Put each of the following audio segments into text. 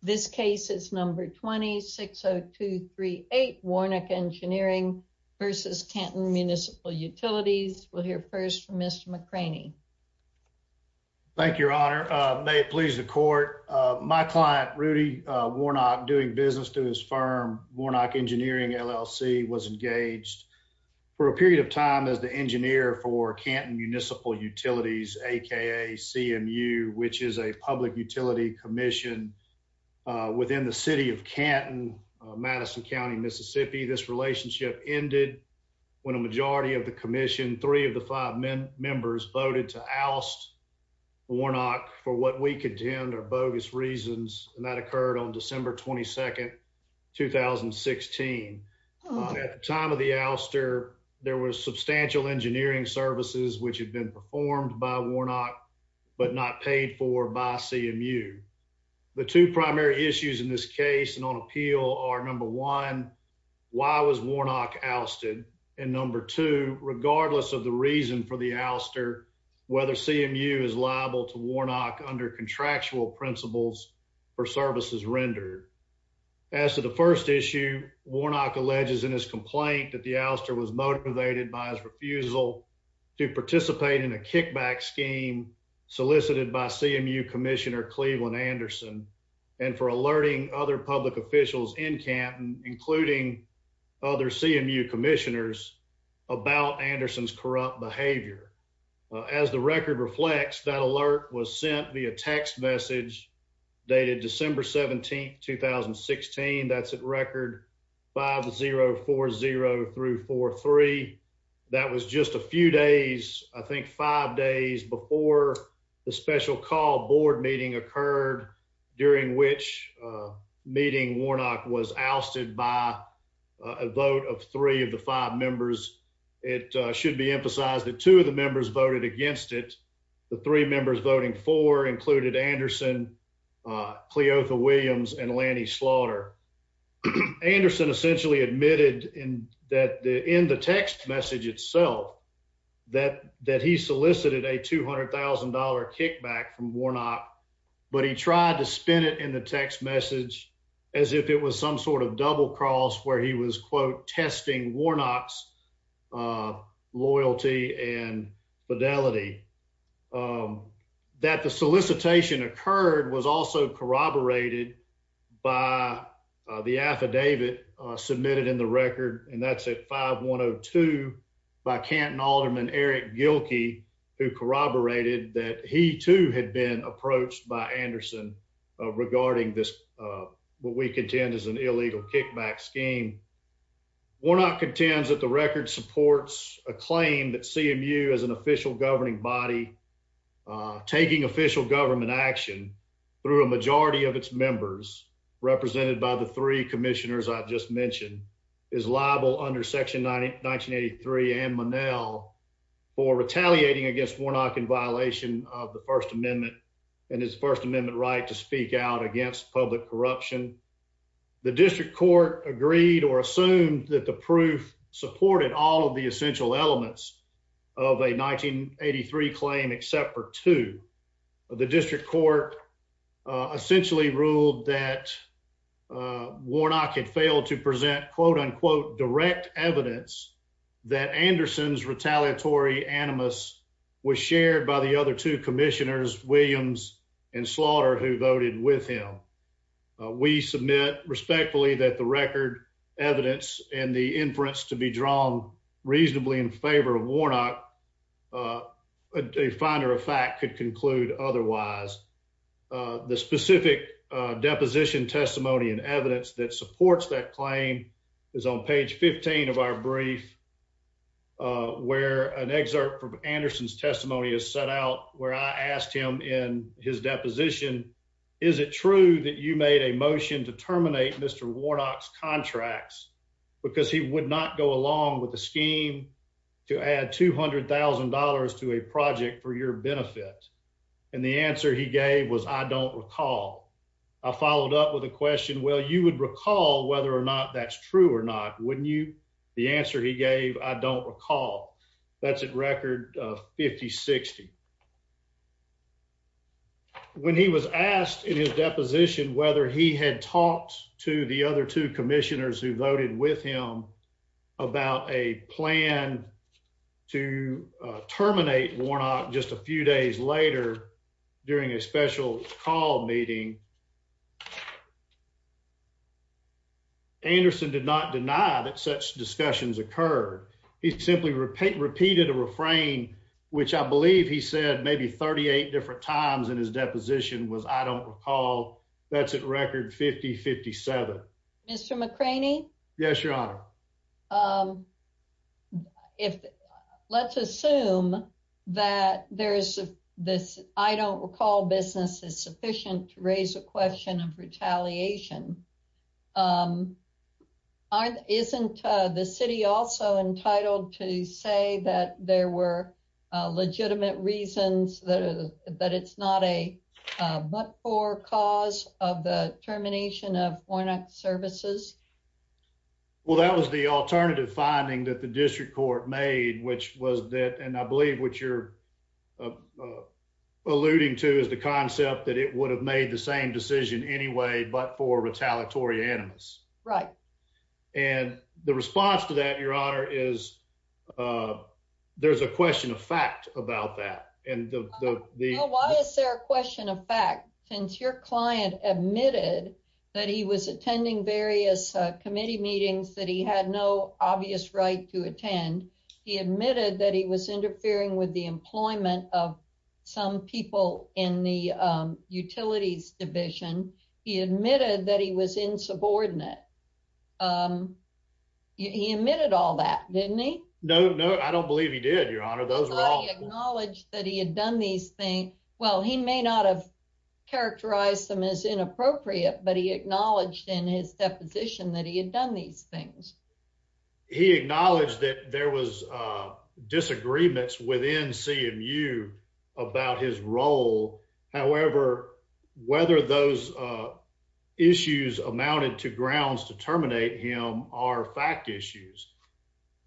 This case is number 260238 Warnock Engineering v. Canton Municipal Utilities. We'll hear first from Mr. McCraney. Thank you, Your Honor. May it please the court. My client, Rudy Warnock, doing business to his firm, Warnock Engineering LLC, was engaged for a period of time as the engineer for Canton Public Utility Commission within the city of Canton, Madison County, Mississippi. This relationship ended when a majority of the commission, three of the five members, voted to oust Warnock for what we contend are bogus reasons, and that occurred on December 22, 2016. At the time of the ouster, there were substantial engineering services which had been performed by Warnock but not paid for by CMU. The two primary issues in this case and on appeal are number one, why was Warnock ousted, and number two, regardless of the reason for the ouster, whether CMU is liable to Warnock under contractual principles for services rendered. As to the first issue, Warnock alleges in his complaint that the ouster was motivated by his refusal to participate in a kickback scheme solicited by CMU Commissioner Cleveland Anderson and for alerting other public officials in Canton, including other CMU commissioners, about Anderson's corrupt behavior. As the record reflects, that alert was sent via text message dated December 17, 2016. That's at record 5040-43. That was just a few days, I think five days, before the special call board meeting occurred, during which meeting Warnock was ousted by a vote of three of the five members. It should be emphasized that two of the members voted against it. The three members voting for included Anderson, Cleotha Williams, and Lanny Slaughter. Anderson essentially admitted in the text message itself that he solicited a $200,000 kickback from Warnock, but he tried to spin it in the text message as if it was some sort of double cross where he was, quote, testing Warnock's loyalty and was also corroborated by the affidavit submitted in the record, and that's at 5102 by Canton Alderman Eric Gilkey, who corroborated that he too had been approached by Anderson regarding this, what we contend is an illegal kickback scheme. Warnock contends that the record supports a claim that CMU as an official governing body taking official government action through a majority of its members, represented by the three commissioners I've just mentioned, is liable under Section 1983 and Monell for retaliating against Warnock in violation of the First Amendment and his First Amendment right to speak out against public corruption. The district court agreed or assumed that the proof supported all of the essential elements of a 1983 claim except for two. The district court essentially ruled that Warnock had failed to present quote-unquote direct evidence that Anderson's retaliatory animus was shared by the other two commissioners, Williams and Slaughter, who voted with him. We submit respectfully that the record evidence and the inference to be drawn reasonably in favor of Warnock, a finder of fact could conclude otherwise. The specific deposition testimony and evidence that supports that claim is on page 15 of our brief where an excerpt from Anderson's testimony is set out where I asked him in his deposition, is it true that you made a motion to terminate Mr. Warnock's contracts because he would not go with the scheme to add $200,000 to a project for your benefit? And the answer he gave was I don't recall. I followed up with a question, well you would recall whether or not that's true or not, wouldn't you? The answer he gave, I don't recall. That's at record 50-60. When he was asked in his deposition whether he had talked to the other two commissioners who a plan to terminate Warnock just a few days later during a special call meeting, Anderson did not deny that such discussions occurred. He simply repeated a refrain which I believe he said maybe 38 different times in his deposition was I don't recall. That's at record 50-57. Mr. McCraney? Yes, your honor. Let's assume that there's this I don't recall business is sufficient to raise a question of retaliation. Isn't the city also entitled to say that there were legitimate reasons that it's not a but-for cause of the termination of Warnock's services? Well that was the alternative finding that the district court made which was that and I believe what you're alluding to is the concept that it would have made the same decision anyway but for about that and the why is there a question of fact since your client admitted that he was attending various committee meetings that he had no obvious right to attend. He admitted that he was interfering with the employment of some people in the utilities division. He admitted that he was acknowledged that he had done these things. Well he may not have characterized them as inappropriate but he acknowledged in his deposition that he had done these things. He acknowledged that there was disagreements within CMU about his role. However, whether those issues amounted to grounds to terminate him are fact issues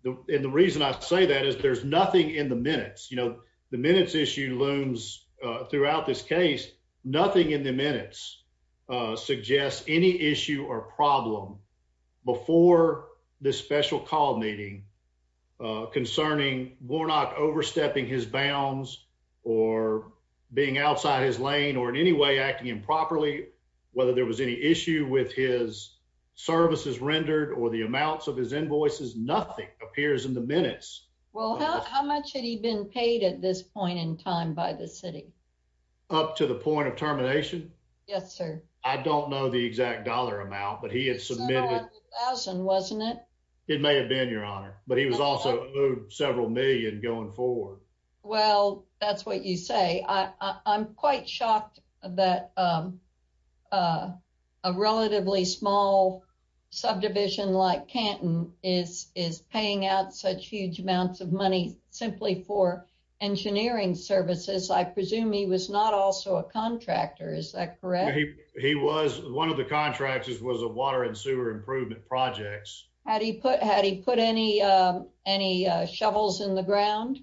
and the reason I say that is there's nothing in the minutes. You know the minutes issue looms throughout this case. Nothing in the minutes suggests any issue or problem before this special call meeting concerning Warnock overstepping his bounds or being outside his lane or in any way acting improperly whether there was any issue with his services rendered or the amounts of his invoices. Nothing appears in the minutes. Well how much had he been paid at this point in time by the city? Up to the point of termination? Yes sir. I don't know the exact dollar amount but he had submitted a thousand wasn't it? It may have been your honor but he was also moved several million going forward. Well that's what you say. I'm quite shocked that a relatively small subdivision like Canton is paying out such huge amounts of money simply for engineering services. I presume he was not also a contractor is that correct? He was one of the contractors was a water and sewer improvement projects. Had he put any shovels in the ground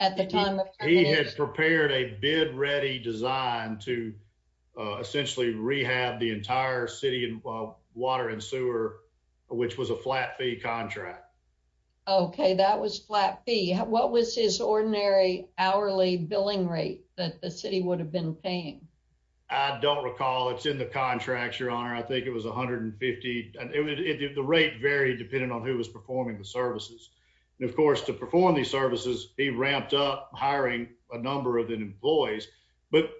at the time? He had prepared a bid ready design to essentially rehab the entire city and water and sewer which was a flat fee contract. Okay that was flat fee. What was his ordinary hourly billing rate that the city would have been paying? I don't recall. It's in the contracts your honor. I think it was 150 and the rate varied depending on who was performing the services and of course to perform these services he ramped up hiring a number of employees but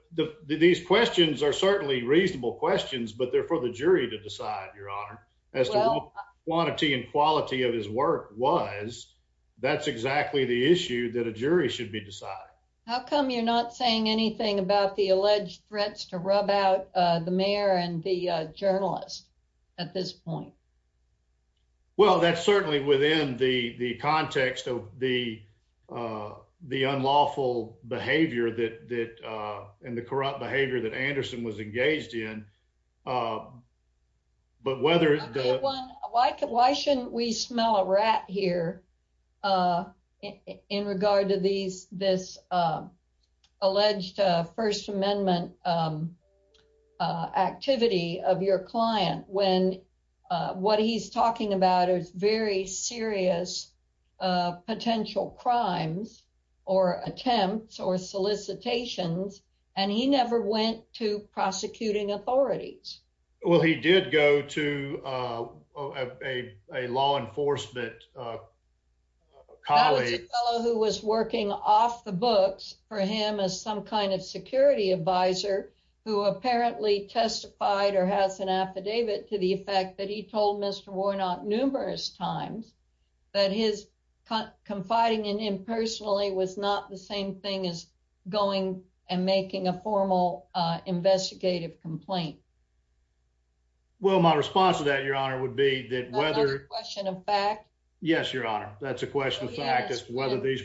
these questions are certainly reasonable questions but they're for the jury to decide your honor as to what quantity and quality of his work was. That's exactly the issue that a jury should be deciding. How come you're not saying anything about the alleged threats to rub out the mayor and the journalist at this point? Well that's certainly within the context of the unlawful behavior that and the corrupt behavior that Anderson was engaged in but whether... I have one. Why shouldn't we smell a rat here in regard to this alleged first amendment activity of your client when what he's talking about is very serious potential crimes or attempts or solicitations and he never went to prosecuting authorities? Well he did go to a law enforcement colleague. That was a fellow who was working off the books for him as some kind of security advisor who apparently testified or has an affidavit to the effect that he told Mr. Warnock numerous times that his confiding in him personally was not the same thing as going and making a formal investigative complaint. Well my response to that your honor would be that whether... Another question of fact? Yes your honor that's a question of fact is whether these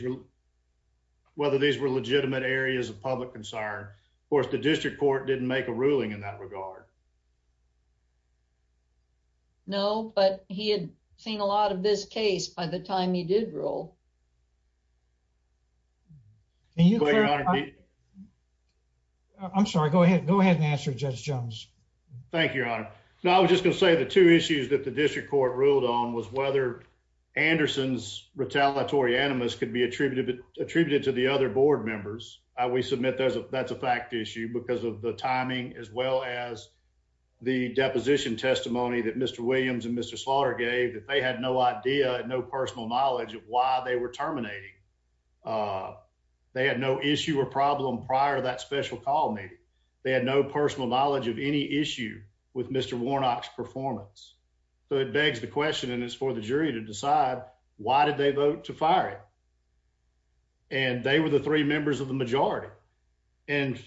were legitimate areas of public concern. Of course the district court didn't make a ruling in that regard. No but he had seen a lot of this case by the time he did rule. I'm sorry go ahead go ahead and answer Judge Jones. Thank you your honor. Now I was just going to say the two issues that the district court ruled on was whether Anderson's retaliatory animus could be attributed to the other board members. We submit that's a fact issue because of the timing as well as the deposition testimony that Mr. Williams and Mr. Slaughter gave that they had no idea and no personal knowledge of why they were terminating. They had no issue or problem prior to that special call meeting. They had no personal knowledge of any issue with Mr. Warnock's performance. So it begs the question and it's for the jury to decide why did they vote to fire him and they were the three members of the majority and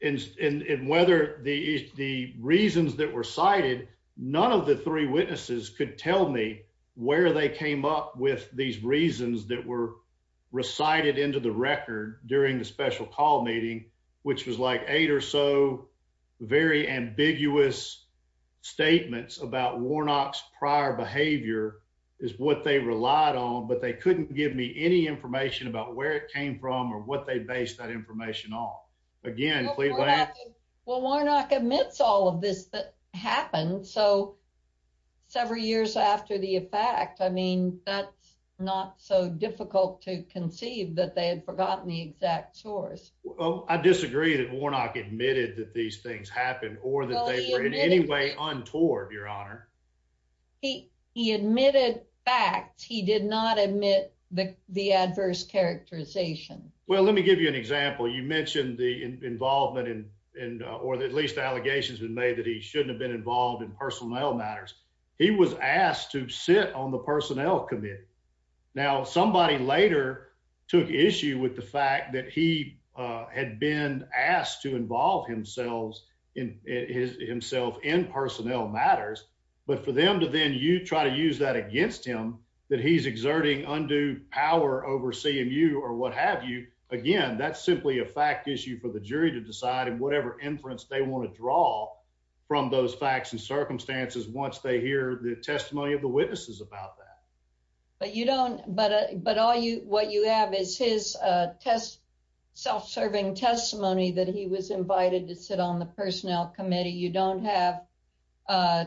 whether the reasons that were cited none of the three witnesses could tell me where they came up with these reasons that were recited into the record during the special call meeting which was like eight or so very ambiguous statements about Warnock's prior behavior is what they relied on but they couldn't give me any information about where it came from or what they based that information on again. Well Warnock admits all of this that happened so several years after the effect I mean that's not so difficult to conceive that they had forgotten the exact source. Well I disagree that Warnock admitted that these things happened or that they in any way untoward your honor. He admitted facts. He did not admit the adverse characterization. Well let me give you an example. You mentioned the involvement in or at least the allegations been made that he shouldn't have been involved in personnel matters. He was asked to sit on the personnel committee. Now somebody later took issue with the fact that he had been asked to involve himself in his himself in personnel matters but for them to then you try to use that against him that he's exerting undue power over CMU or what have you again that's simply a fact issue for the jury to decide and whatever inference they want to draw from those facts and circumstances once they hear the testimony of the witnesses about that. But you don't but all you what you have is his self-serving testimony that he was invited to sit on the personnel committee. You don't have a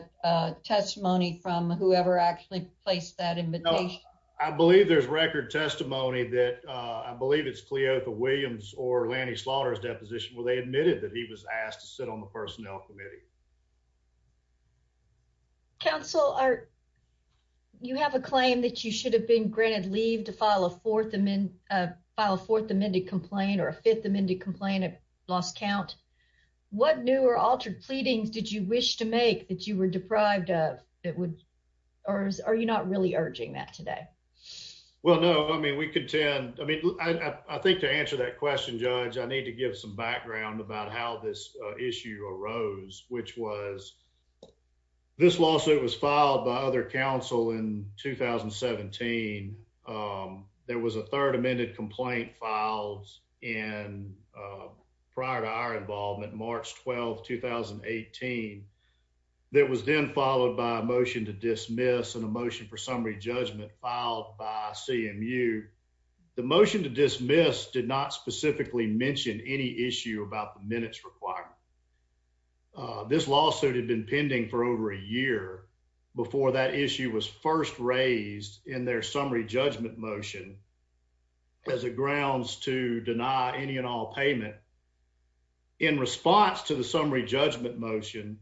testimony from whoever actually placed that invitation. I believe there's record testimony that I believe it's Cleotha Williams or Lanny Slaughter's deposition where they admitted that he was asked to sit on the personnel committee. Counsel are you have a claim that you should have been granted leave to file a fourth amendment file fourth amended complaint or a fifth amended complaint at lost count. What new or altered pleadings did you wish to make that you were deprived of that would or are you not really urging that today? Well no I mean we contend I mean I think to answer that question judge I need to give some background about how this issue arose which was this lawsuit was filed by other counsel in 2017. There was a third amended complaint filed in prior to our involvement March 12, 2018 that was then followed by a motion to dismiss and a motion for summary judgment filed by CMU. The motion to dismiss did not specifically mention any issue about the minutes requirement. This lawsuit had been pending for over a year before that issue was first raised in their summary judgment motion as a grounds to deny any and all payment. In response to the summary judgment motion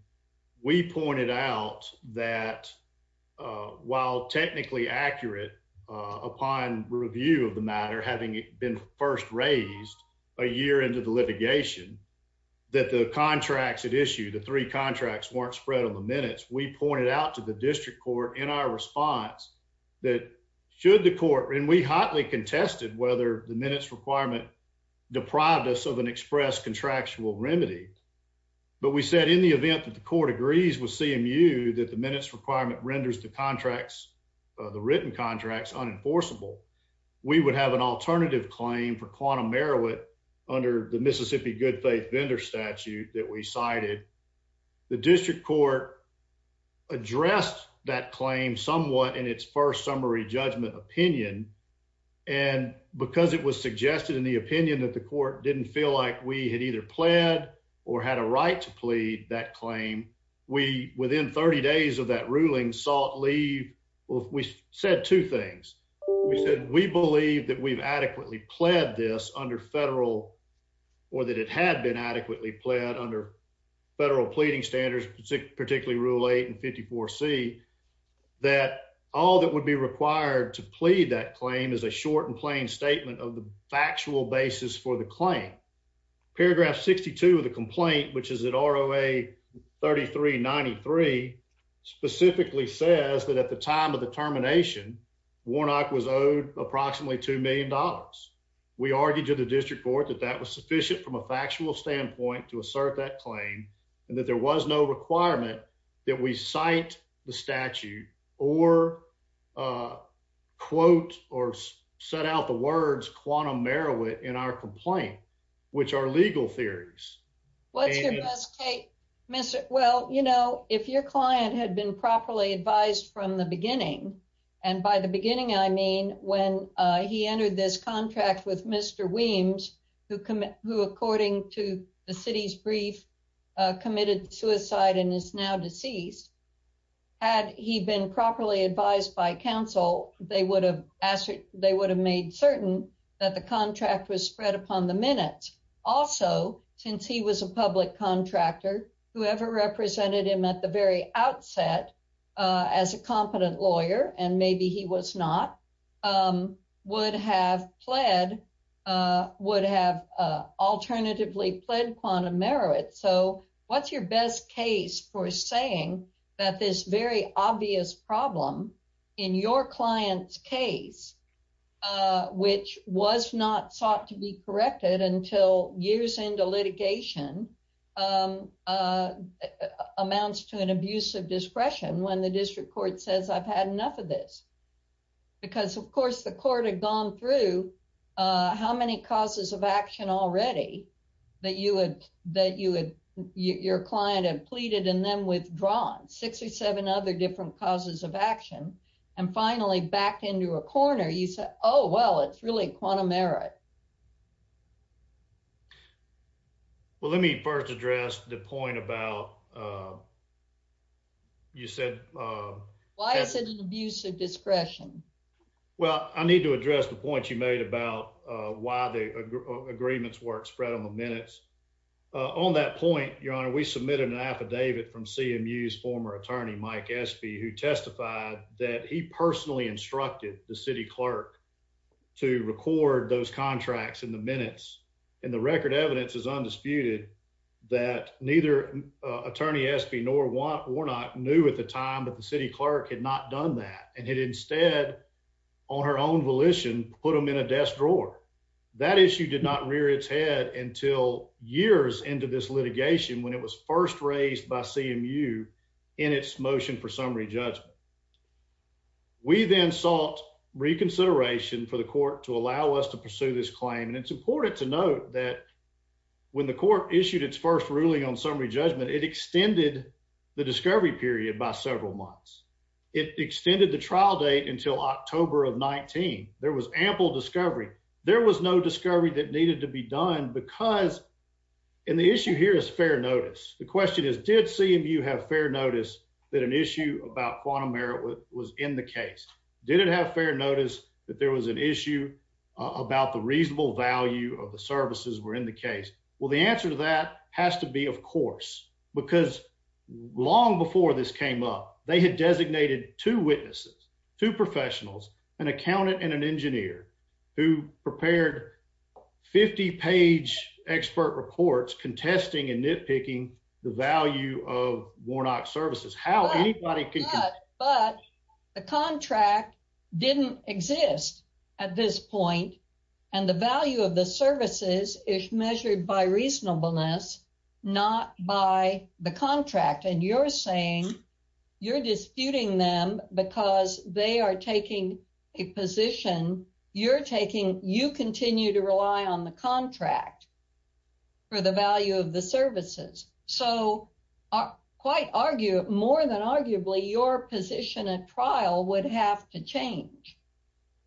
we pointed out that while technically accurate upon review of the matter having been first raised a year into the litigation that the contracts had issued the three contracts weren't spread on the minutes we pointed out to the district court in our response that should the court and we hotly contested whether the minutes requirement deprived us of an express contractual remedy but we said in the event that the court agrees with CMU that the minutes requirement renders the contracts the written contracts unenforceable we would have an alternative claim for quantum Meroweth under the Mississippi good faith vendor statute that we cited. The district court addressed that claim somewhat in its first summary judgment opinion and because it was suggested in the opinion that the court didn't feel like we had either pled or had a right to plead that claim we within 30 days of that ruling sought leave well we said two things we said we believe that we've adequately pled this under federal or that it had been adequately pled under federal pleading standards particularly rule 8 and 54c that all that would be required to plead that claim is a short and plain statement of the factual basis for the claim. Paragraph 62 of the complaint which is at ROA 3393 specifically says that at the time of the termination Warnock was owed approximately two million dollars. We argued to the district court that that was sufficient from a factual standpoint to assert that claim and that there was no requirement that we cite the statute or quote or set out the words quantum Meroweth in our complaint which are legal theories. What's your best Kate? Well you know if your client had been properly advised from the beginning and by the beginning I mean when he entered this contract with Mr. Weems who according to the city's brief committed suicide and is now deceased had he been properly advised by council they would have made certain that the contract was spread upon the minute. Also since he was a public contractor whoever represented him at the very outset as a competent lawyer and maybe he was not would have pled would have alternatively pled quantum Meroweth. So what's your best case for saying that this very obvious problem in your client's case which was not sought to be corrected until years into litigation amounts to an abuse of discretion when the district court says I've had enough of this because of course the court had gone through how many causes of action already that you would that you would your client had pleaded and then withdrawn six or seven other different causes of you said oh well it's really quantum merit. Well let me first address the point about you said. Why is it an abuse of discretion? Well I need to address the point you made about why the agreements work spread on the minutes. On that point your honor we submitted an affidavit from CMU's former attorney Mike Espy who testified that he personally instructed the city clerk to record those contracts in the minutes and the record evidence is undisputed that neither attorney Espy nor Warnock knew at the time that the city clerk had not done that and had instead on her own volition put them in a desk drawer. That issue did not rear its head until years into this litigation when it was first raised by CMU in its motion for summary judgment. We then sought reconsideration for the court to allow us to pursue this claim and it's important to note that when the court issued its first ruling on summary judgment it extended the discovery period by several months. It extended the trial date until October of 19. There was ample discovery. There was no discovery that did CMU have fair notice that an issue about quantum merit was in the case? Did it have fair notice that there was an issue about the reasonable value of the services were in the case? Well the answer to that has to be of course because long before this came up they had designated two witnesses, two professionals, an accountant and an engineer who prepared 50 page expert reports contesting and nitpicking the value of Warnock services. But the contract didn't exist at this point and the value of the services is measured by reasonableness not by the contract and you're saying you're disputing them because they are taking a position you're taking you continue to of the services. So quite argue more than arguably your position at trial would have to change.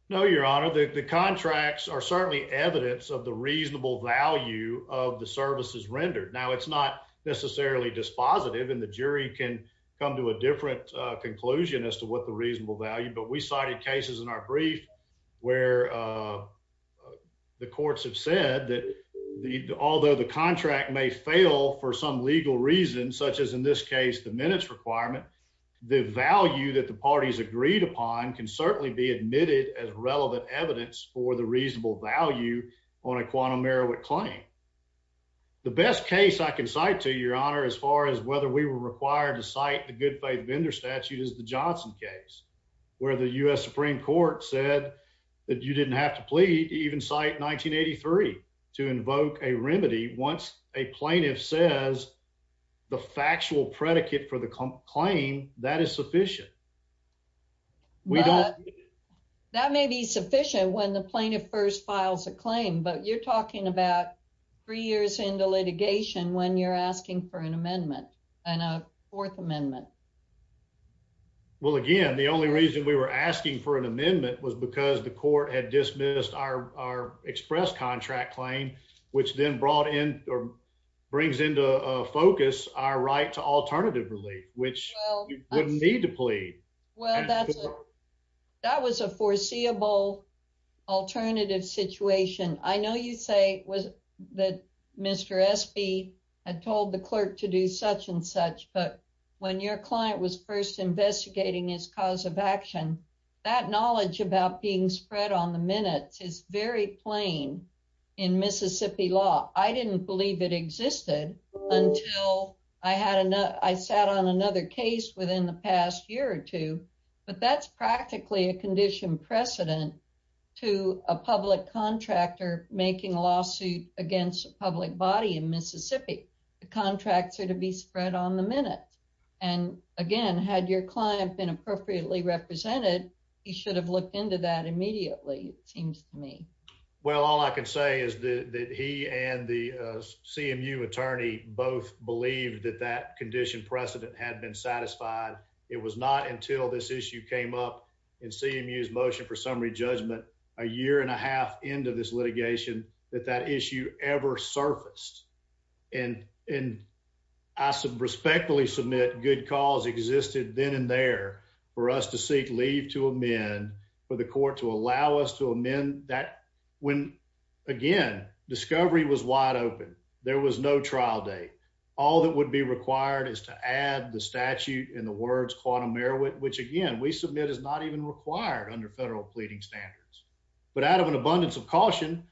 No your honor the contracts are certainly evidence of the reasonable value of the services rendered. Now it's not necessarily dispositive and the jury can come to a different conclusion as to what the reasonable value but we cited cases in our brief where the courts have said that although the contract may fail for some legal reason such as in this case the minutes requirement the value that the parties agreed upon can certainly be admitted as relevant evidence for the reasonable value on a quantum merit claim. The best case I can cite to your honor as far as whether we were required to cite the good faith vendor statute is the Johnson case where the U.S. Supreme Court said that you didn't have to plead even cite 1983 to invoke a remedy once a plaintiff says the factual predicate for the claim that is sufficient. That may be sufficient when the plaintiff first files a claim but you're talking about three years into litigation when you're asking for an amendment and a fourth amendment. Well again the only reason we were asking for an amendment was because the court had dismissed our express contract claim which then brought in or brings into focus our right to alternative relief which you wouldn't need to plead. Well that's that was a foreseeable alternative situation. I know you say was that Mr. Espy had told the clerk to do such and such but when you're client was first investigating his cause of action that knowledge about being spread on the minutes is very plain in Mississippi law. I didn't believe it existed until I sat on another case within the past year or two but that's practically a condition precedent to a public contractor making a lawsuit against a public body in Mississippi. The contracts are to be spread on the minutes and again had your client been appropriately represented he should have looked into that immediately it seems to me. Well all I can say is that he and the CMU attorney both believed that that condition precedent had been satisfied. It was not until this issue came up in CMU's motion for summary judgment a year and a half into this litigation that that issue ever surfaced and I respectfully submit good cause existed then and there for us to seek leave to amend for the court to allow us to amend that when again discovery was wide open. There was no trial date. All that would be required is to add the statute in the words quantum merit which again we submit is not even required under federal pleading standards but out of an abundance of to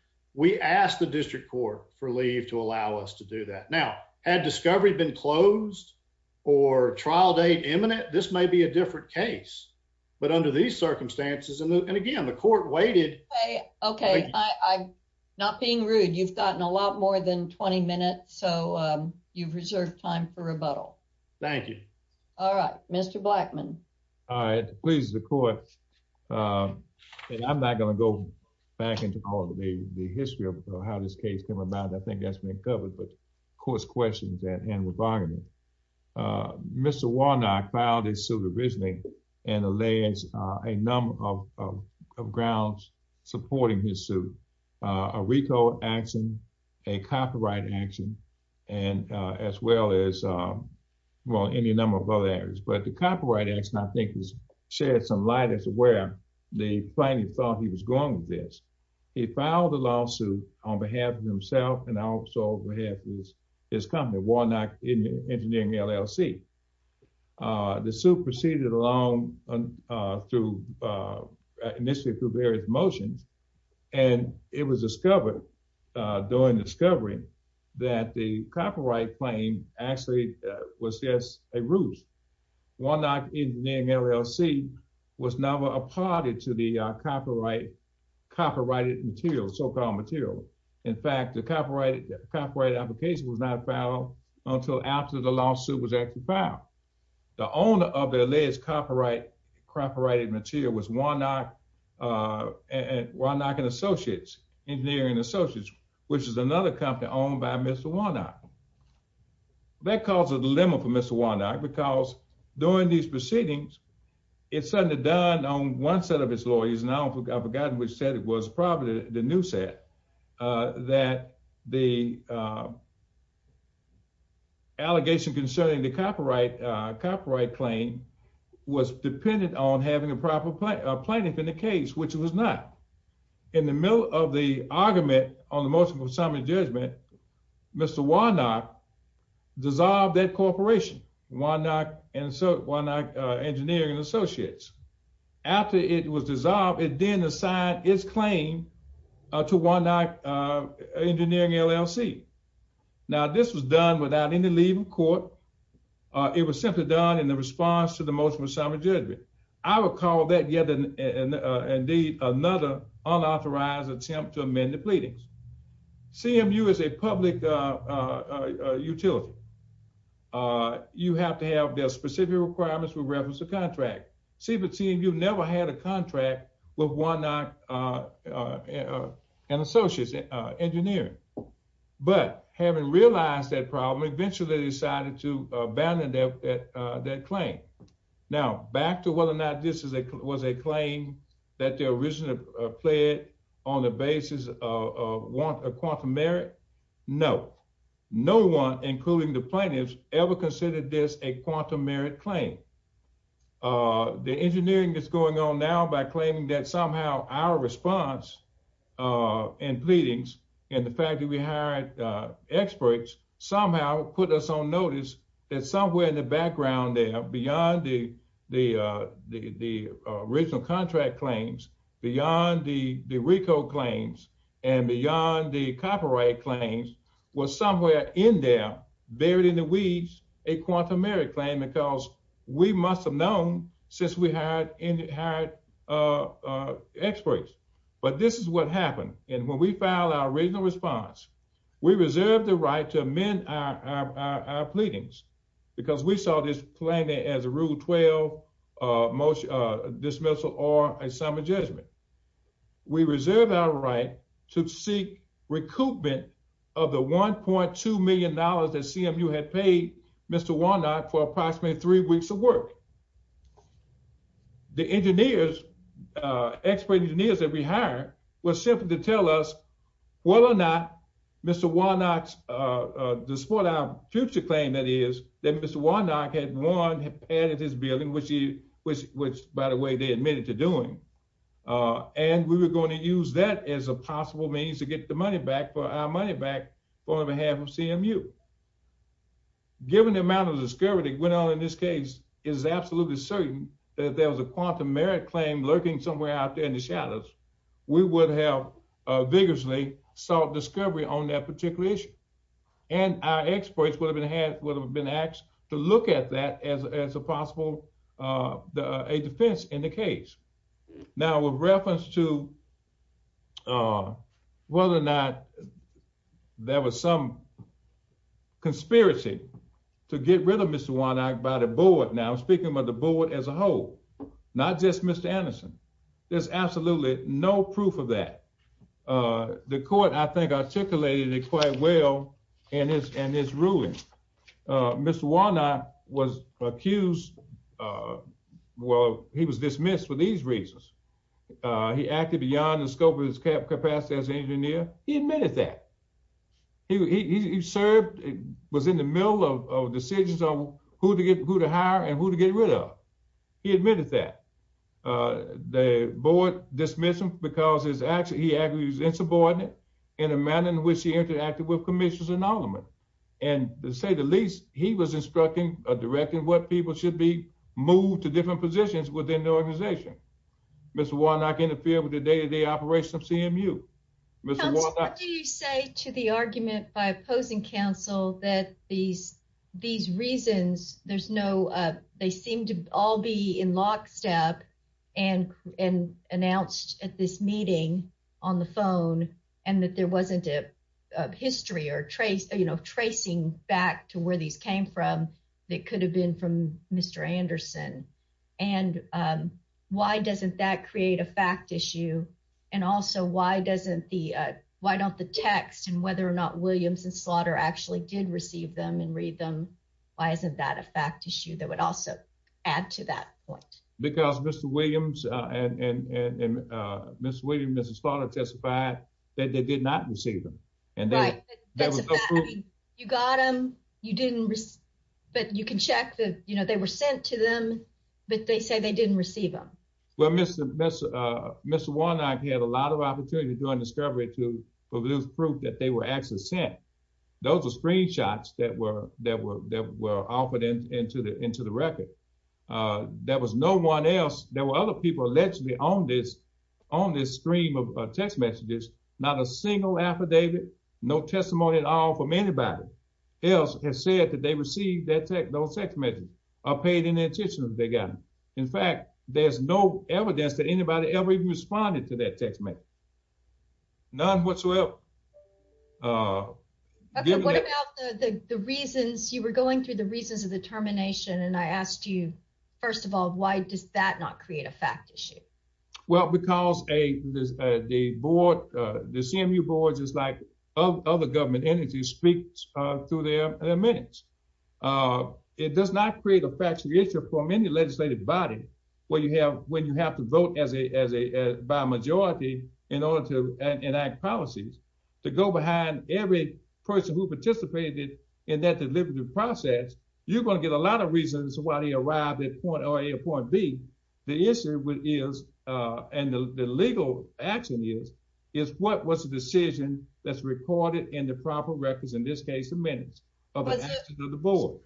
allow us to do that. Now had discovery been closed or trial date imminent this may be a different case but under these circumstances and again the court waited. Okay I'm not being rude you've gotten a lot more than 20 minutes so you've reserved time for rebuttal. Thank you. All right Mr. Blackmon. All right please the court and I'm not going to go back into all the history of how this case came about. I think that's been covered but of course questions at hand with bargaining. Mr. Warnock filed his suit originally and allays a number of grounds supporting his suit. A recall action, a copyright action and as well as well any number of other areas but the copyright action I think has shed some light as to where the plaintiff thought he was going with this. He filed the lawsuit on behalf of himself and also on behalf of his company Warnock Engineering LLC. The suit proceeded along through initially through various motions and it was discovered during discovery that the copyright claim actually was just a copyrighted material, so-called material. In fact the copyright application was not filed until after the lawsuit was actually filed. The owner of their latest copyrighted material was Warnock and Associates, Engineering Associates which is another company owned by Mr. Warnock. That caused a dilemma for Mr. Warnock because during these proceedings it's suddenly done on one set of his lawyers and I forgot which set it was probably the new set that the allegation concerning the copyright claim was dependent on having a proper plaintiff in the case which it was not. In the middle of the argument on the motion of summary judgment Mr. Warnock dissolved that corporation Warnock Engineering and Associates. After it was dissolved it then assigned its claim to Warnock Engineering LLC. Now this was done without any leave in court. It was simply done in the response to the motion of summary judgment. I would call that yet an indeed another unauthorized attempt to amend the pleadings. CMU is a public utility. You have to have their specific requirements with reference to contract. CMU never had a contract with Warnock and Associates Engineering but having realized that problem eventually decided to abandon that claim. Now back to whether or not this was a claim that they originally pled on the basis of a quantum merit. No. No one including the plaintiffs ever considered this a quantum merit claim. The engineering is going on now by claiming that somehow our response and pleadings and the fact that we hired experts somehow put us on notice that somewhere in the background there beyond the original contract claims, beyond the RICO claims, and beyond the copyright claims was somewhere in there buried in the weeds a quantum merit claim because we must have known since we hired experts. But this is what happened and when we filed our original response we reserved the right to amend our pleadings because we saw this plaintiff as a rule 12 most dismissal or a summer judgment. We reserved our right to seek recoupment of the 1.2 million dollars that CMU had paid Mr. Warnock for approximately three weeks of work. The engineers, expert engineers that we hired was simply to tell us whether or not Mr. Warnock's future claim that is that Mr. Warnock had won had added his billing which he which which by the way they admitted to doing and we were going to use that as a possible means to get the money back for our money back on behalf of CMU. Given the amount of discovery that went on in this case is absolutely certain that there was a quantum merit claim lurking somewhere out there in the experts would have been asked to look at that as a possible defense in the case. Now with reference to whether or not there was some conspiracy to get rid of Mr. Warnock by the board now speaking about the board as a whole not just Mr. Anderson there's absolutely no proof of that. The court I think articulated it quite well in his in his ruling. Mr. Warnock was accused well he was dismissed for these reasons. He acted beyond the scope of his capacity as an engineer. He admitted that he served was in the middle of decisions on who to get who to hire and who to get rid of. He admitted that the board dismissed him because his action he agrees insubordinate in a manner in which he interacted with commissioners and aldermen and to say the least he was instructing or directing what people should be moved to different positions within the organization. Mr. Warnock interfered with the day-to-day operations of CMU. What do you say to the argument by opposing counsel that these reasons there's no they seem to all be in lockstep and announced at this meeting on the phone and that there wasn't a history or trace you know tracing back to where these came from that could have been from Mr. Anderson and why doesn't that whether or not Williams and Slaughter actually did receive them and read them why isn't that a fact issue that would also add to that point? Because Mr. Williams and Mr. Williams and Mrs. Slaughter testified that they did not receive them. Right. You got them you didn't but you can check that you know they were sent to them but they say they didn't receive them. Well Mr. Warnock had a lot of opportunity during discovery to produce proof that they were actually sent. Those are screenshots that were that were that were offered into the into the record. There was no one else there were other people allegedly on this on this stream of text messages not a single affidavit no testimony at all from anybody else has said that they received that those text messages or paid any attention that they got. In fact there's no evidence that anybody ever even responded to that text message. None whatsoever. What about the the reasons you were going through the reasons of the termination and I asked you first of all why does that not create a fact issue? Well because a the board the CMU board just like other government entities speaks through their minutes. It does not create a factual issue from any legislative body where you have when you have to vote as a as a by majority in order to enact policies to go behind every person who participated in that deliberative process you're going to get a lot of reasons why they arrived at point a or point b. The issue is and the legal action is is what was the decision that's recorded in the proper records in this case the minutes of the board.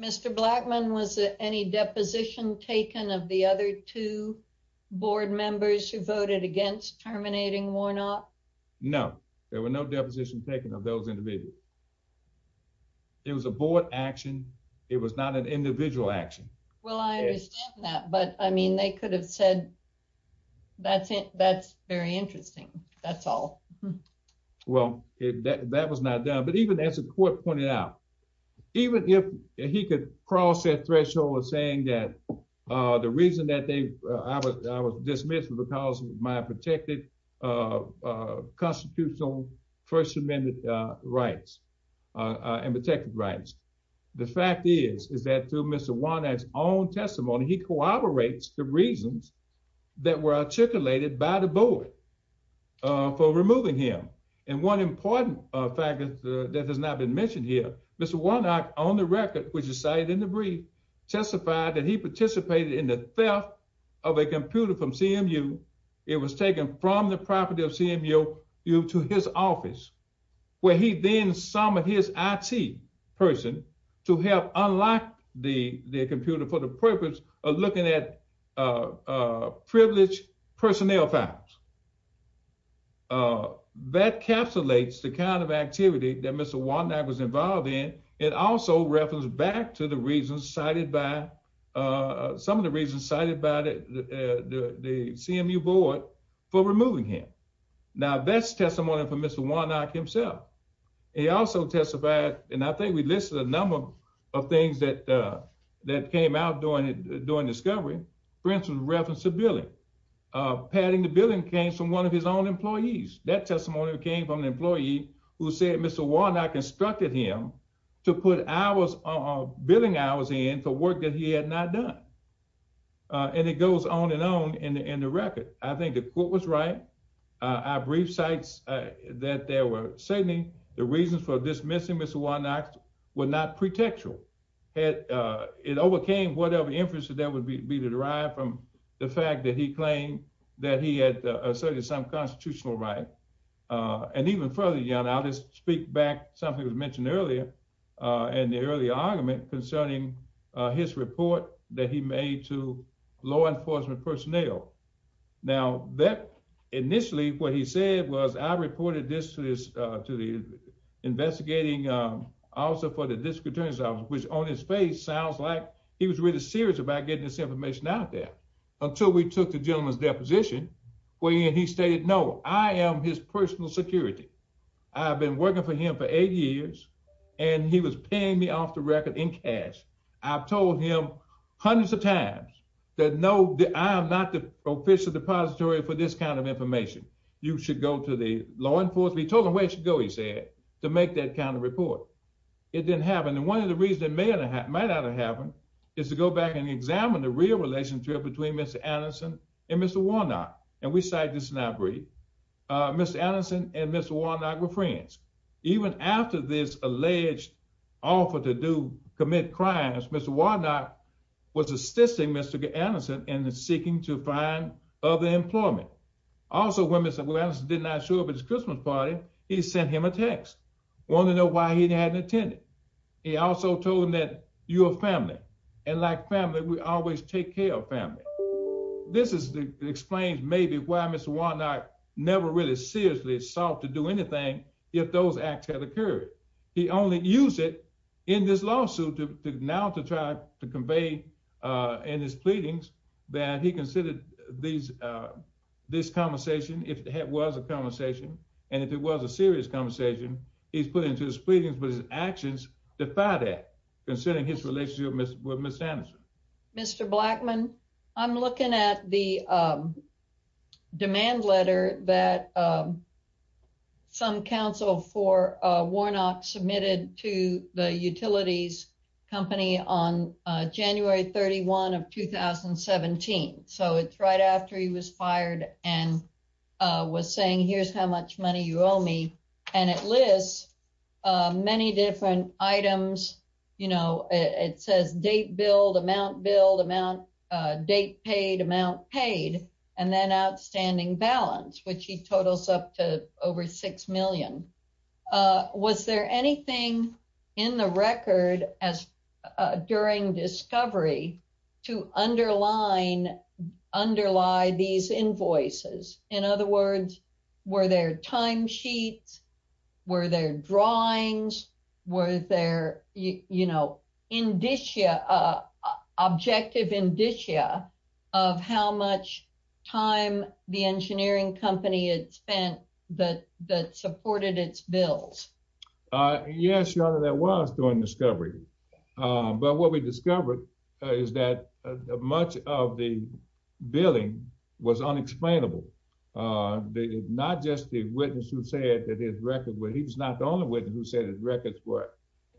Mr. Blackmon was any deposition taken of the other two members who voted against terminating Warnock? No there were no depositions taken of those individuals. It was a board action. It was not an individual action. Well I understand that but I mean they could have said that's it that's very interesting that's all. Well that was not done but even as the court pointed out even if he could cross that threshold of saying that the reason that they I was I was dismissed was because of my protected constitutional first amendment rights and protected rights. The fact is is that through Mr. Warnock's own testimony he corroborates the reasons that were articulated by the board for removing him and one important fact that has not been mentioned here Mr. Warnock on the record which is cited in the brief testified that he participated in the theft of a computer from CMU. It was taken from the property of CMU to his office where he then summoned his IT person to help unlock the computer for the purpose of looking at privileged personnel files. That capsulates the kind of activity that some of the reasons cited by the CMU board for removing him. Now that's testimony for Mr. Warnock himself. He also testified and I think we listed a number of things that that came out during it during discovery. For instance reference to billing. Padding the billing came from one of his own employees. That testimony came from the employee who said Mr. Warnock instructed him to put hours of billing hours in for work that he had not done and it goes on and on in the record. I think the court was right. Our brief cites that they were citing the reasons for dismissing Mr. Warnock were not pretextual. It overcame whatever inference that would be to derive from the fact that he claimed that he had asserted some constitutional right and even further you know I'll just speak back something was mentioned earlier and the earlier argument concerning his report that he made to law enforcement personnel. Now that initially what he said was I reported this to the investigating officer for the district attorney's office which on his face sounds like he was really serious about getting this information out there until we took the gentleman's deposition where he stated no I am his personal security. I've been working for him for eight years and he was paying me off the record in cash. I've told him hundreds of times that no I am not the official depository for this kind of information. You should go to the law enforcement. He told them where you should go he said to make that kind of report. It didn't happen and one of the reasons that may or might not have happened is to go back and examine the real relationship between Mr. Warnock and we cite this in our brief uh Mr. Anderson and Mr. Warnock were friends even after this alleged offer to do commit crimes Mr. Warnock was assisting Mr. Anderson in seeking to find other employment. Also when Mr. Anderson did not show up at his Christmas party he sent him a text wanting to know why he hadn't attended. He also told him that you're family and like family we always take care of family. This is the explains maybe why Mr. Warnock never really seriously sought to do anything if those acts had occurred. He only used it in this lawsuit to now to try to convey uh in his pleadings that he considered these uh this conversation if it was a conversation and if it was a serious conversation he's put into his pleadings but his actions defy that considering his relationship with Ms. Anderson. Mr. Blackmon I'm looking at the demand letter that some counsel for Warnock submitted to the utilities company on January 31 of 2017. So it's right after he was fired and was saying here's how much money you owe me and it lists many different items you know it says date billed, amount billed, amount date paid, amount paid and then outstanding balance which he totals up to over six million. Was there anything in the record as during discovery to underline underlie these invoices? In other words were there time sheets, were there drawings, were there you know indicia uh objective indicia of how much time the engineering company had spent that that supported its bills? Uh yes your honor there was during discovery but what we discovered is that much of the billing was unexplainable uh not just the witness who said that his records were he was not the only witness who said his records were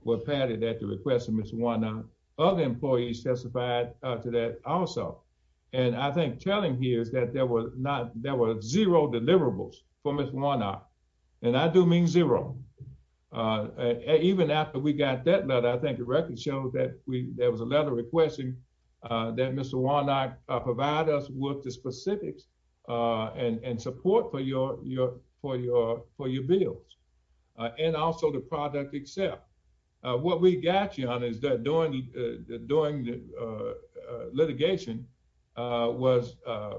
were padded at the request of Mr. Warnock. Other employees testified to that also and I think telling here is that there was not there were zero deliverables for Mr. Warnock and I do mean zero uh even after we got that letter I think the record shows that there was a letter requesting uh that Mr. Warnock provide us with the specifics uh and and support for your your for your for your bills uh and also the product itself. What we got your honor is that during the during the uh litigation uh was uh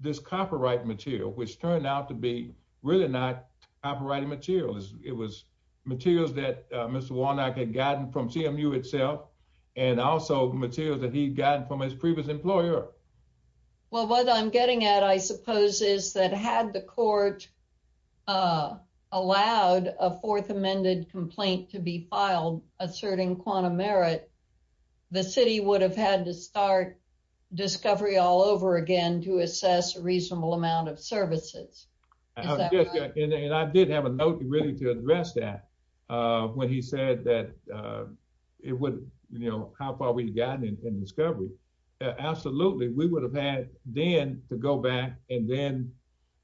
this copyright material which turned out to be really not copyrighted material it was materials that Mr. Warnock had gotten from CMU itself and also materials that he'd gotten from his previous employer. Well what I'm getting at I suppose is that had the court uh allowed a fourth amended complaint to be filed asserting quantum merit the city would have had to start discovery all over again to assess a reasonable amount of services. And I did have a note really to address that uh when he said that uh it would you know how far we'd gotten in discovery absolutely we would have had then to go back and then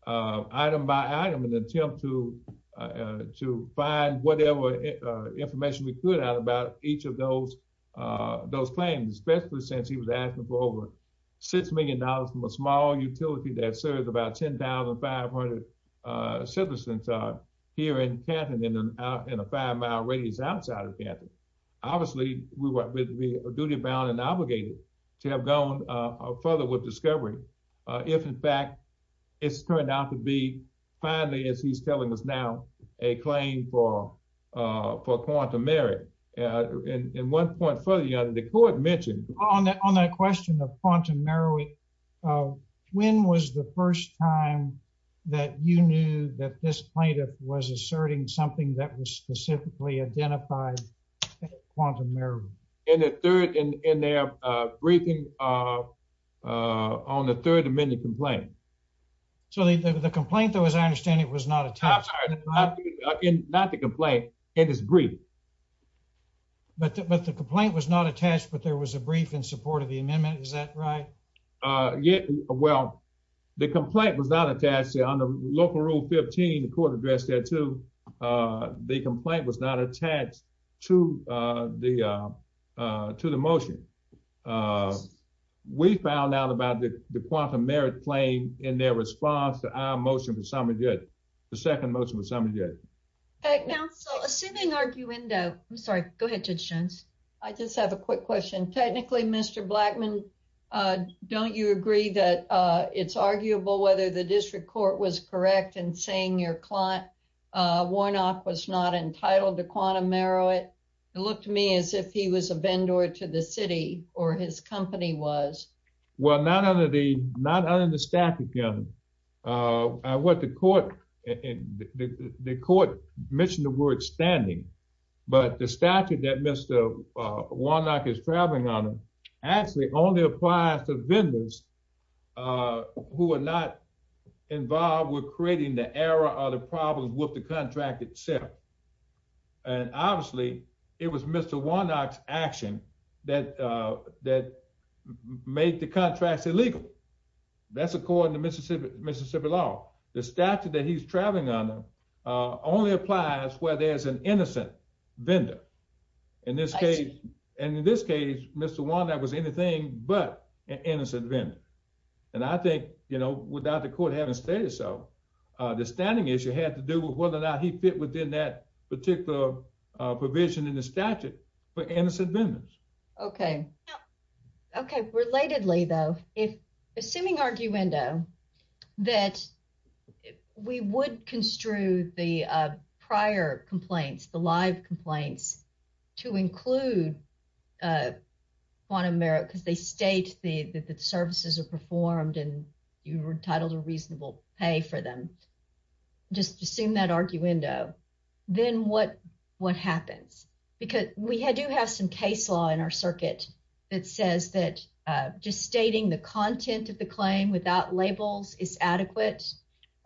uh item by item in an attempt to uh to find whatever uh information we could out about each of those uh those claims especially since he was asking for over six million dollars from a small utility that serves about 10,500 uh citizens uh here in Canton in a five mile radius outside of Canton. Obviously we were a duty bound and obligated to have gone uh further with discovery uh if in fact it's turned out to be finally as he's telling us now a claim for uh for quantum merit. And one point further your honor the court mentioned on that on that question of quantum merit uh when was the first time that you knew that this plaintiff was asserting something that was specifically identified as quantum merit? In the third in in their uh briefing uh uh on the third amendment complaint. So the the complaint though as I understand it was not attached. Not the complaint it is brief. But but the complaint was not attached but there was a brief in support of the amendment is that right? Uh yeah well the complaint was not attached there local rule 15 the court addressed that too. Uh the complaint was not attached to uh the uh uh to the motion. Uh we found out about the quantum merit claim in their response to our motion for summary judge. The second motion was summary judge. Okay now so assuming arguendo I'm sorry go ahead Judge Jones. I just have a quick question. Technically Mr. Blackmon uh you agree that uh it's arguable whether the district court was correct in saying your client uh Warnock was not entitled to quantum merit? It looked to me as if he was a vendor to the city or his company was. Well not under the not under the statute your honor. Uh what the court in the court mentioned the word standing but the statute that Mr. uh Warnock is traveling on actually only applies to vendors uh who are not involved with creating the error or the problems with the contract itself. And obviously it was Mr. Warnock's action that uh that made the contracts illegal. That's according to Mississippi Mississippi law. The statute that he's traveling under uh only applies where there's an innocent vendor. In this case and in this case Mr. Warnock was anything but an innocent vendor. And I think you know without the court having stated so uh the standing issue had to do with whether or not he fit within that particular uh provision in the statute for innocent vendors. Okay okay relatedly though if assuming arguendo that we would construe the prior complaints the live complaints to include uh quantum merit because they state the the services are performed and you were entitled to reasonable pay for them. Just assume that arguendo then what what happens? Because we do have some case law in our circuit that says that uh just stating the content of the claim without labels is adequate.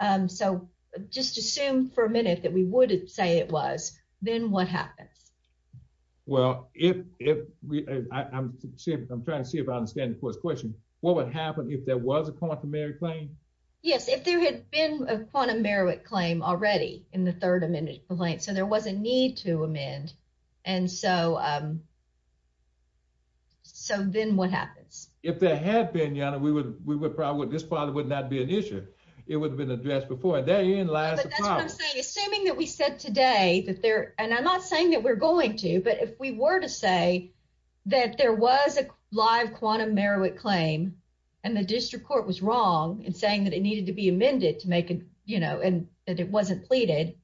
Um so just assume for a minute that we would say it was then what happens? Well if if we I'm trying to see if I understand the first question. What would happen if there was a quantum merit claim? Yes if there had been a quantum merit claim already in the third amendment complaint so there was a need to amend and so um so then what happens? If there had been you know we would we probably this probably would not be an issue. It would have been addressed before and that in lies the problem. Assuming that we said today that there and I'm not saying that we're going to but if we were to say that there was a live quantum merit claim and the district court was wrong in saying that it needed to be amended to make it you know and that it wasn't pleaded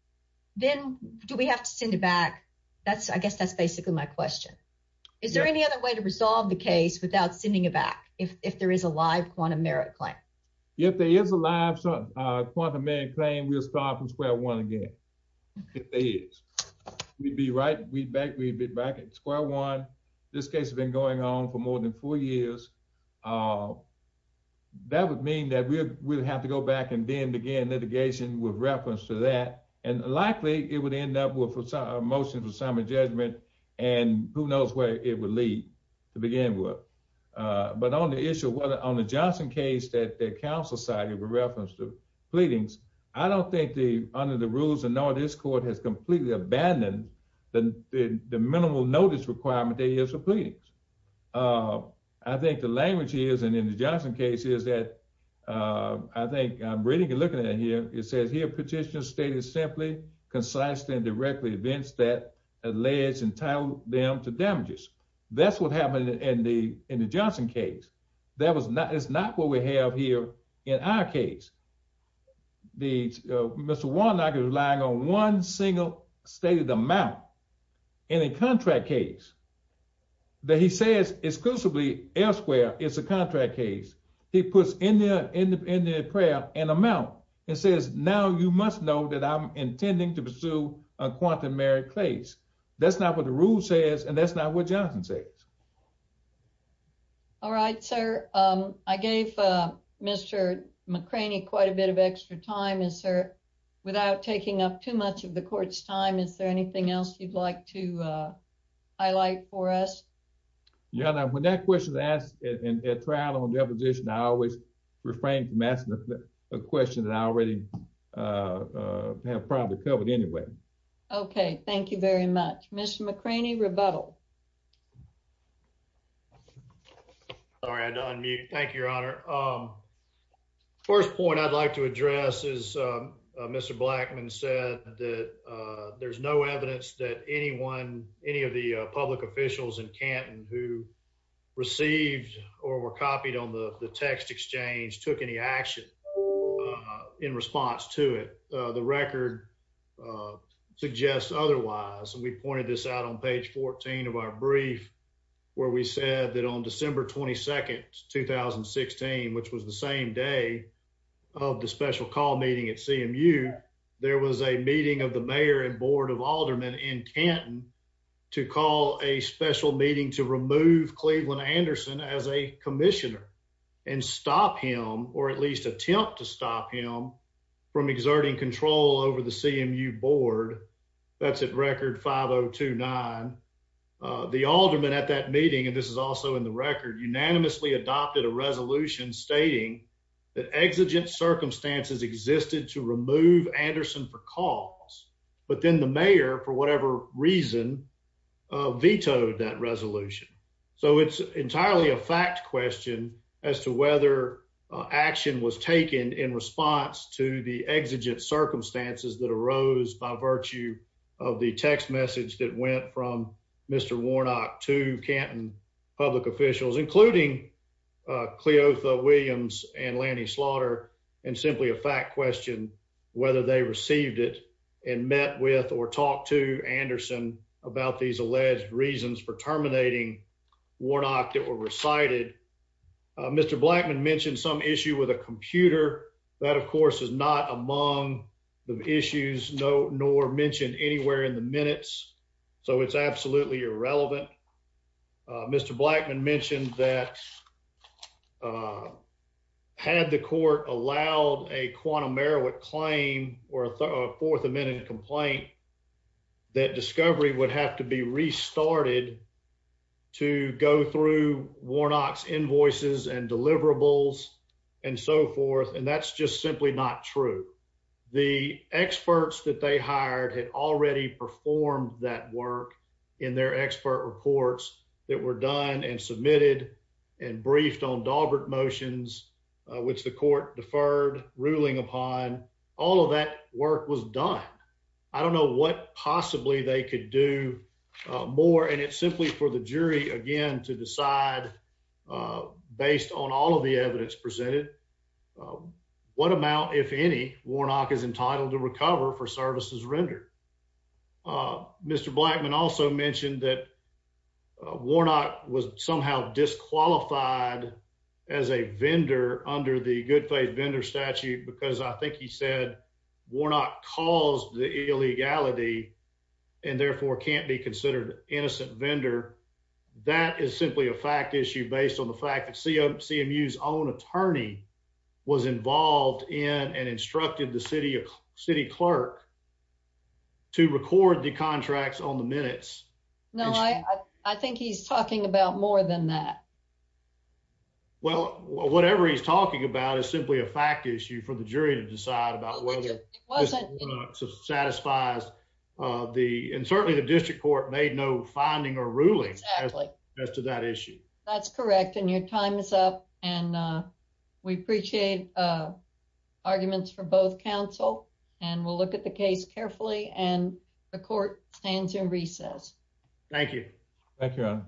then do we have to send it back? That's I guess that's basically my question. Is there any other way to resolve the case without sending it back if if there is a live quantum merit claim? If there is a live uh quantum merit claim we'll start from square one again. If there is. We'd be right we'd back we'd be back at square one. This case has been going on for more than four years uh that would mean that we would have to go back and then begin litigation with reference to that and likely it would end up with a motion for assignment judgment and who knows where it would lead to begin with uh but on the issue whether on the Johnson case that the council cited with reference to pleadings I don't think the under the rules and all this court has completely abandoned the the minimal notice requirement there is for pleadings. Uh I think the language is and in the Johnson case is that uh I think I'm reading and looking at here it says here petitioner stated simply concise and directly events that alleged entitled them to damages. That's what happened in the in the Johnson case. That was not it's not what we have here in our case. The uh Mr. Warnock is relying on one single stated amount in a contract case that he says exclusively elsewhere it's a contract case. He puts in there in the prayer an amount and says now you must know that I'm intending to pursue a quantum merit case. That's not what the rule says and that's not what Johnson says. All right sir um I gave uh Mr. McCraney quite a bit of extra time and sir without taking up too much of the court's time is there anything else you'd like to uh highlight for us? Yeah now when that question is asked in a trial on deposition I always refrain from asking a question that I already uh uh have probably covered anyway. Okay thank you very much. Mr. McCraney rebuttal. Sorry I had to unmute. Thank you your honor. Um first point I'd like to address is uh Mr. Blackman said that uh there's no evidence that anyone any of the public officials in Canton who received or were copied on the the text exchange took any action uh in response to it. The record uh suggests otherwise. We pointed this out on page 14 of our brief where we said that on December 22nd 2016 which was the same day of the special call meeting at CMU there was a meeting of the mayor and board of aldermen in Canton to call a special meeting to remove Cleveland Anderson as a commissioner and stop him or at least attempt to stop him from exerting control over the CMU board. That's at record 5029. The alderman at that meeting and this is also in the record unanimously adopted a resolution stating that exigent circumstances existed to remove Anderson for cause but then the mayor for whatever reason vetoed that resolution. So it's entirely a fact question as to whether action was taken in response to the exigent circumstances that arose by virtue of the text message that went from Mr. Warnock to Canton public officials including Cleotha Williams and Lanny Slaughter and simply a fact question whether they received it and met with or talked to Anderson about these alleged reasons for terminating Warnock that were recited. Mr. Blackman mentioned some issue with a computer that of course is not among the issues no nor mentioned anywhere in the minutes so it's absolutely irrelevant. Mr. Blackman mentioned that had the court allowed a quantum merowick claim or a fourth amendment complaint that discovery would have to be restarted to go through Warnock's invoices and deliverables and so forth and that's just simply not true. The experts that they hired had already performed that work in their expert reports that were done and submitted and briefed on Daubert motions which the court deferred ruling upon all of that work was done. I don't know what possibly they could do more and it's simply for the jury again to decide based on all of the evidence presented what amount if any Warnock is entitled to recover for services rendered. Mr. Blackman also mentioned that Warnock was somehow disqualified as a vendor under the good faith vendor statute because I think he said Warnock caused the illegality and therefore can't be considered innocent vendor. That is simply a fact issue based on the fact that CMU's own attorney was involved in and instructed the city of city clerk to record the contracts on the minutes. No I think he's talking about more than that. Well whatever he's talking about is simply a fact issue for the jury to decide about whether satisfies the and certainly the district court made no finding or ruling as to that issue. That's correct and your time is up and we appreciate arguments for both counsel and we'll look at the case carefully and the court stands in recess. Thank you. Thank you.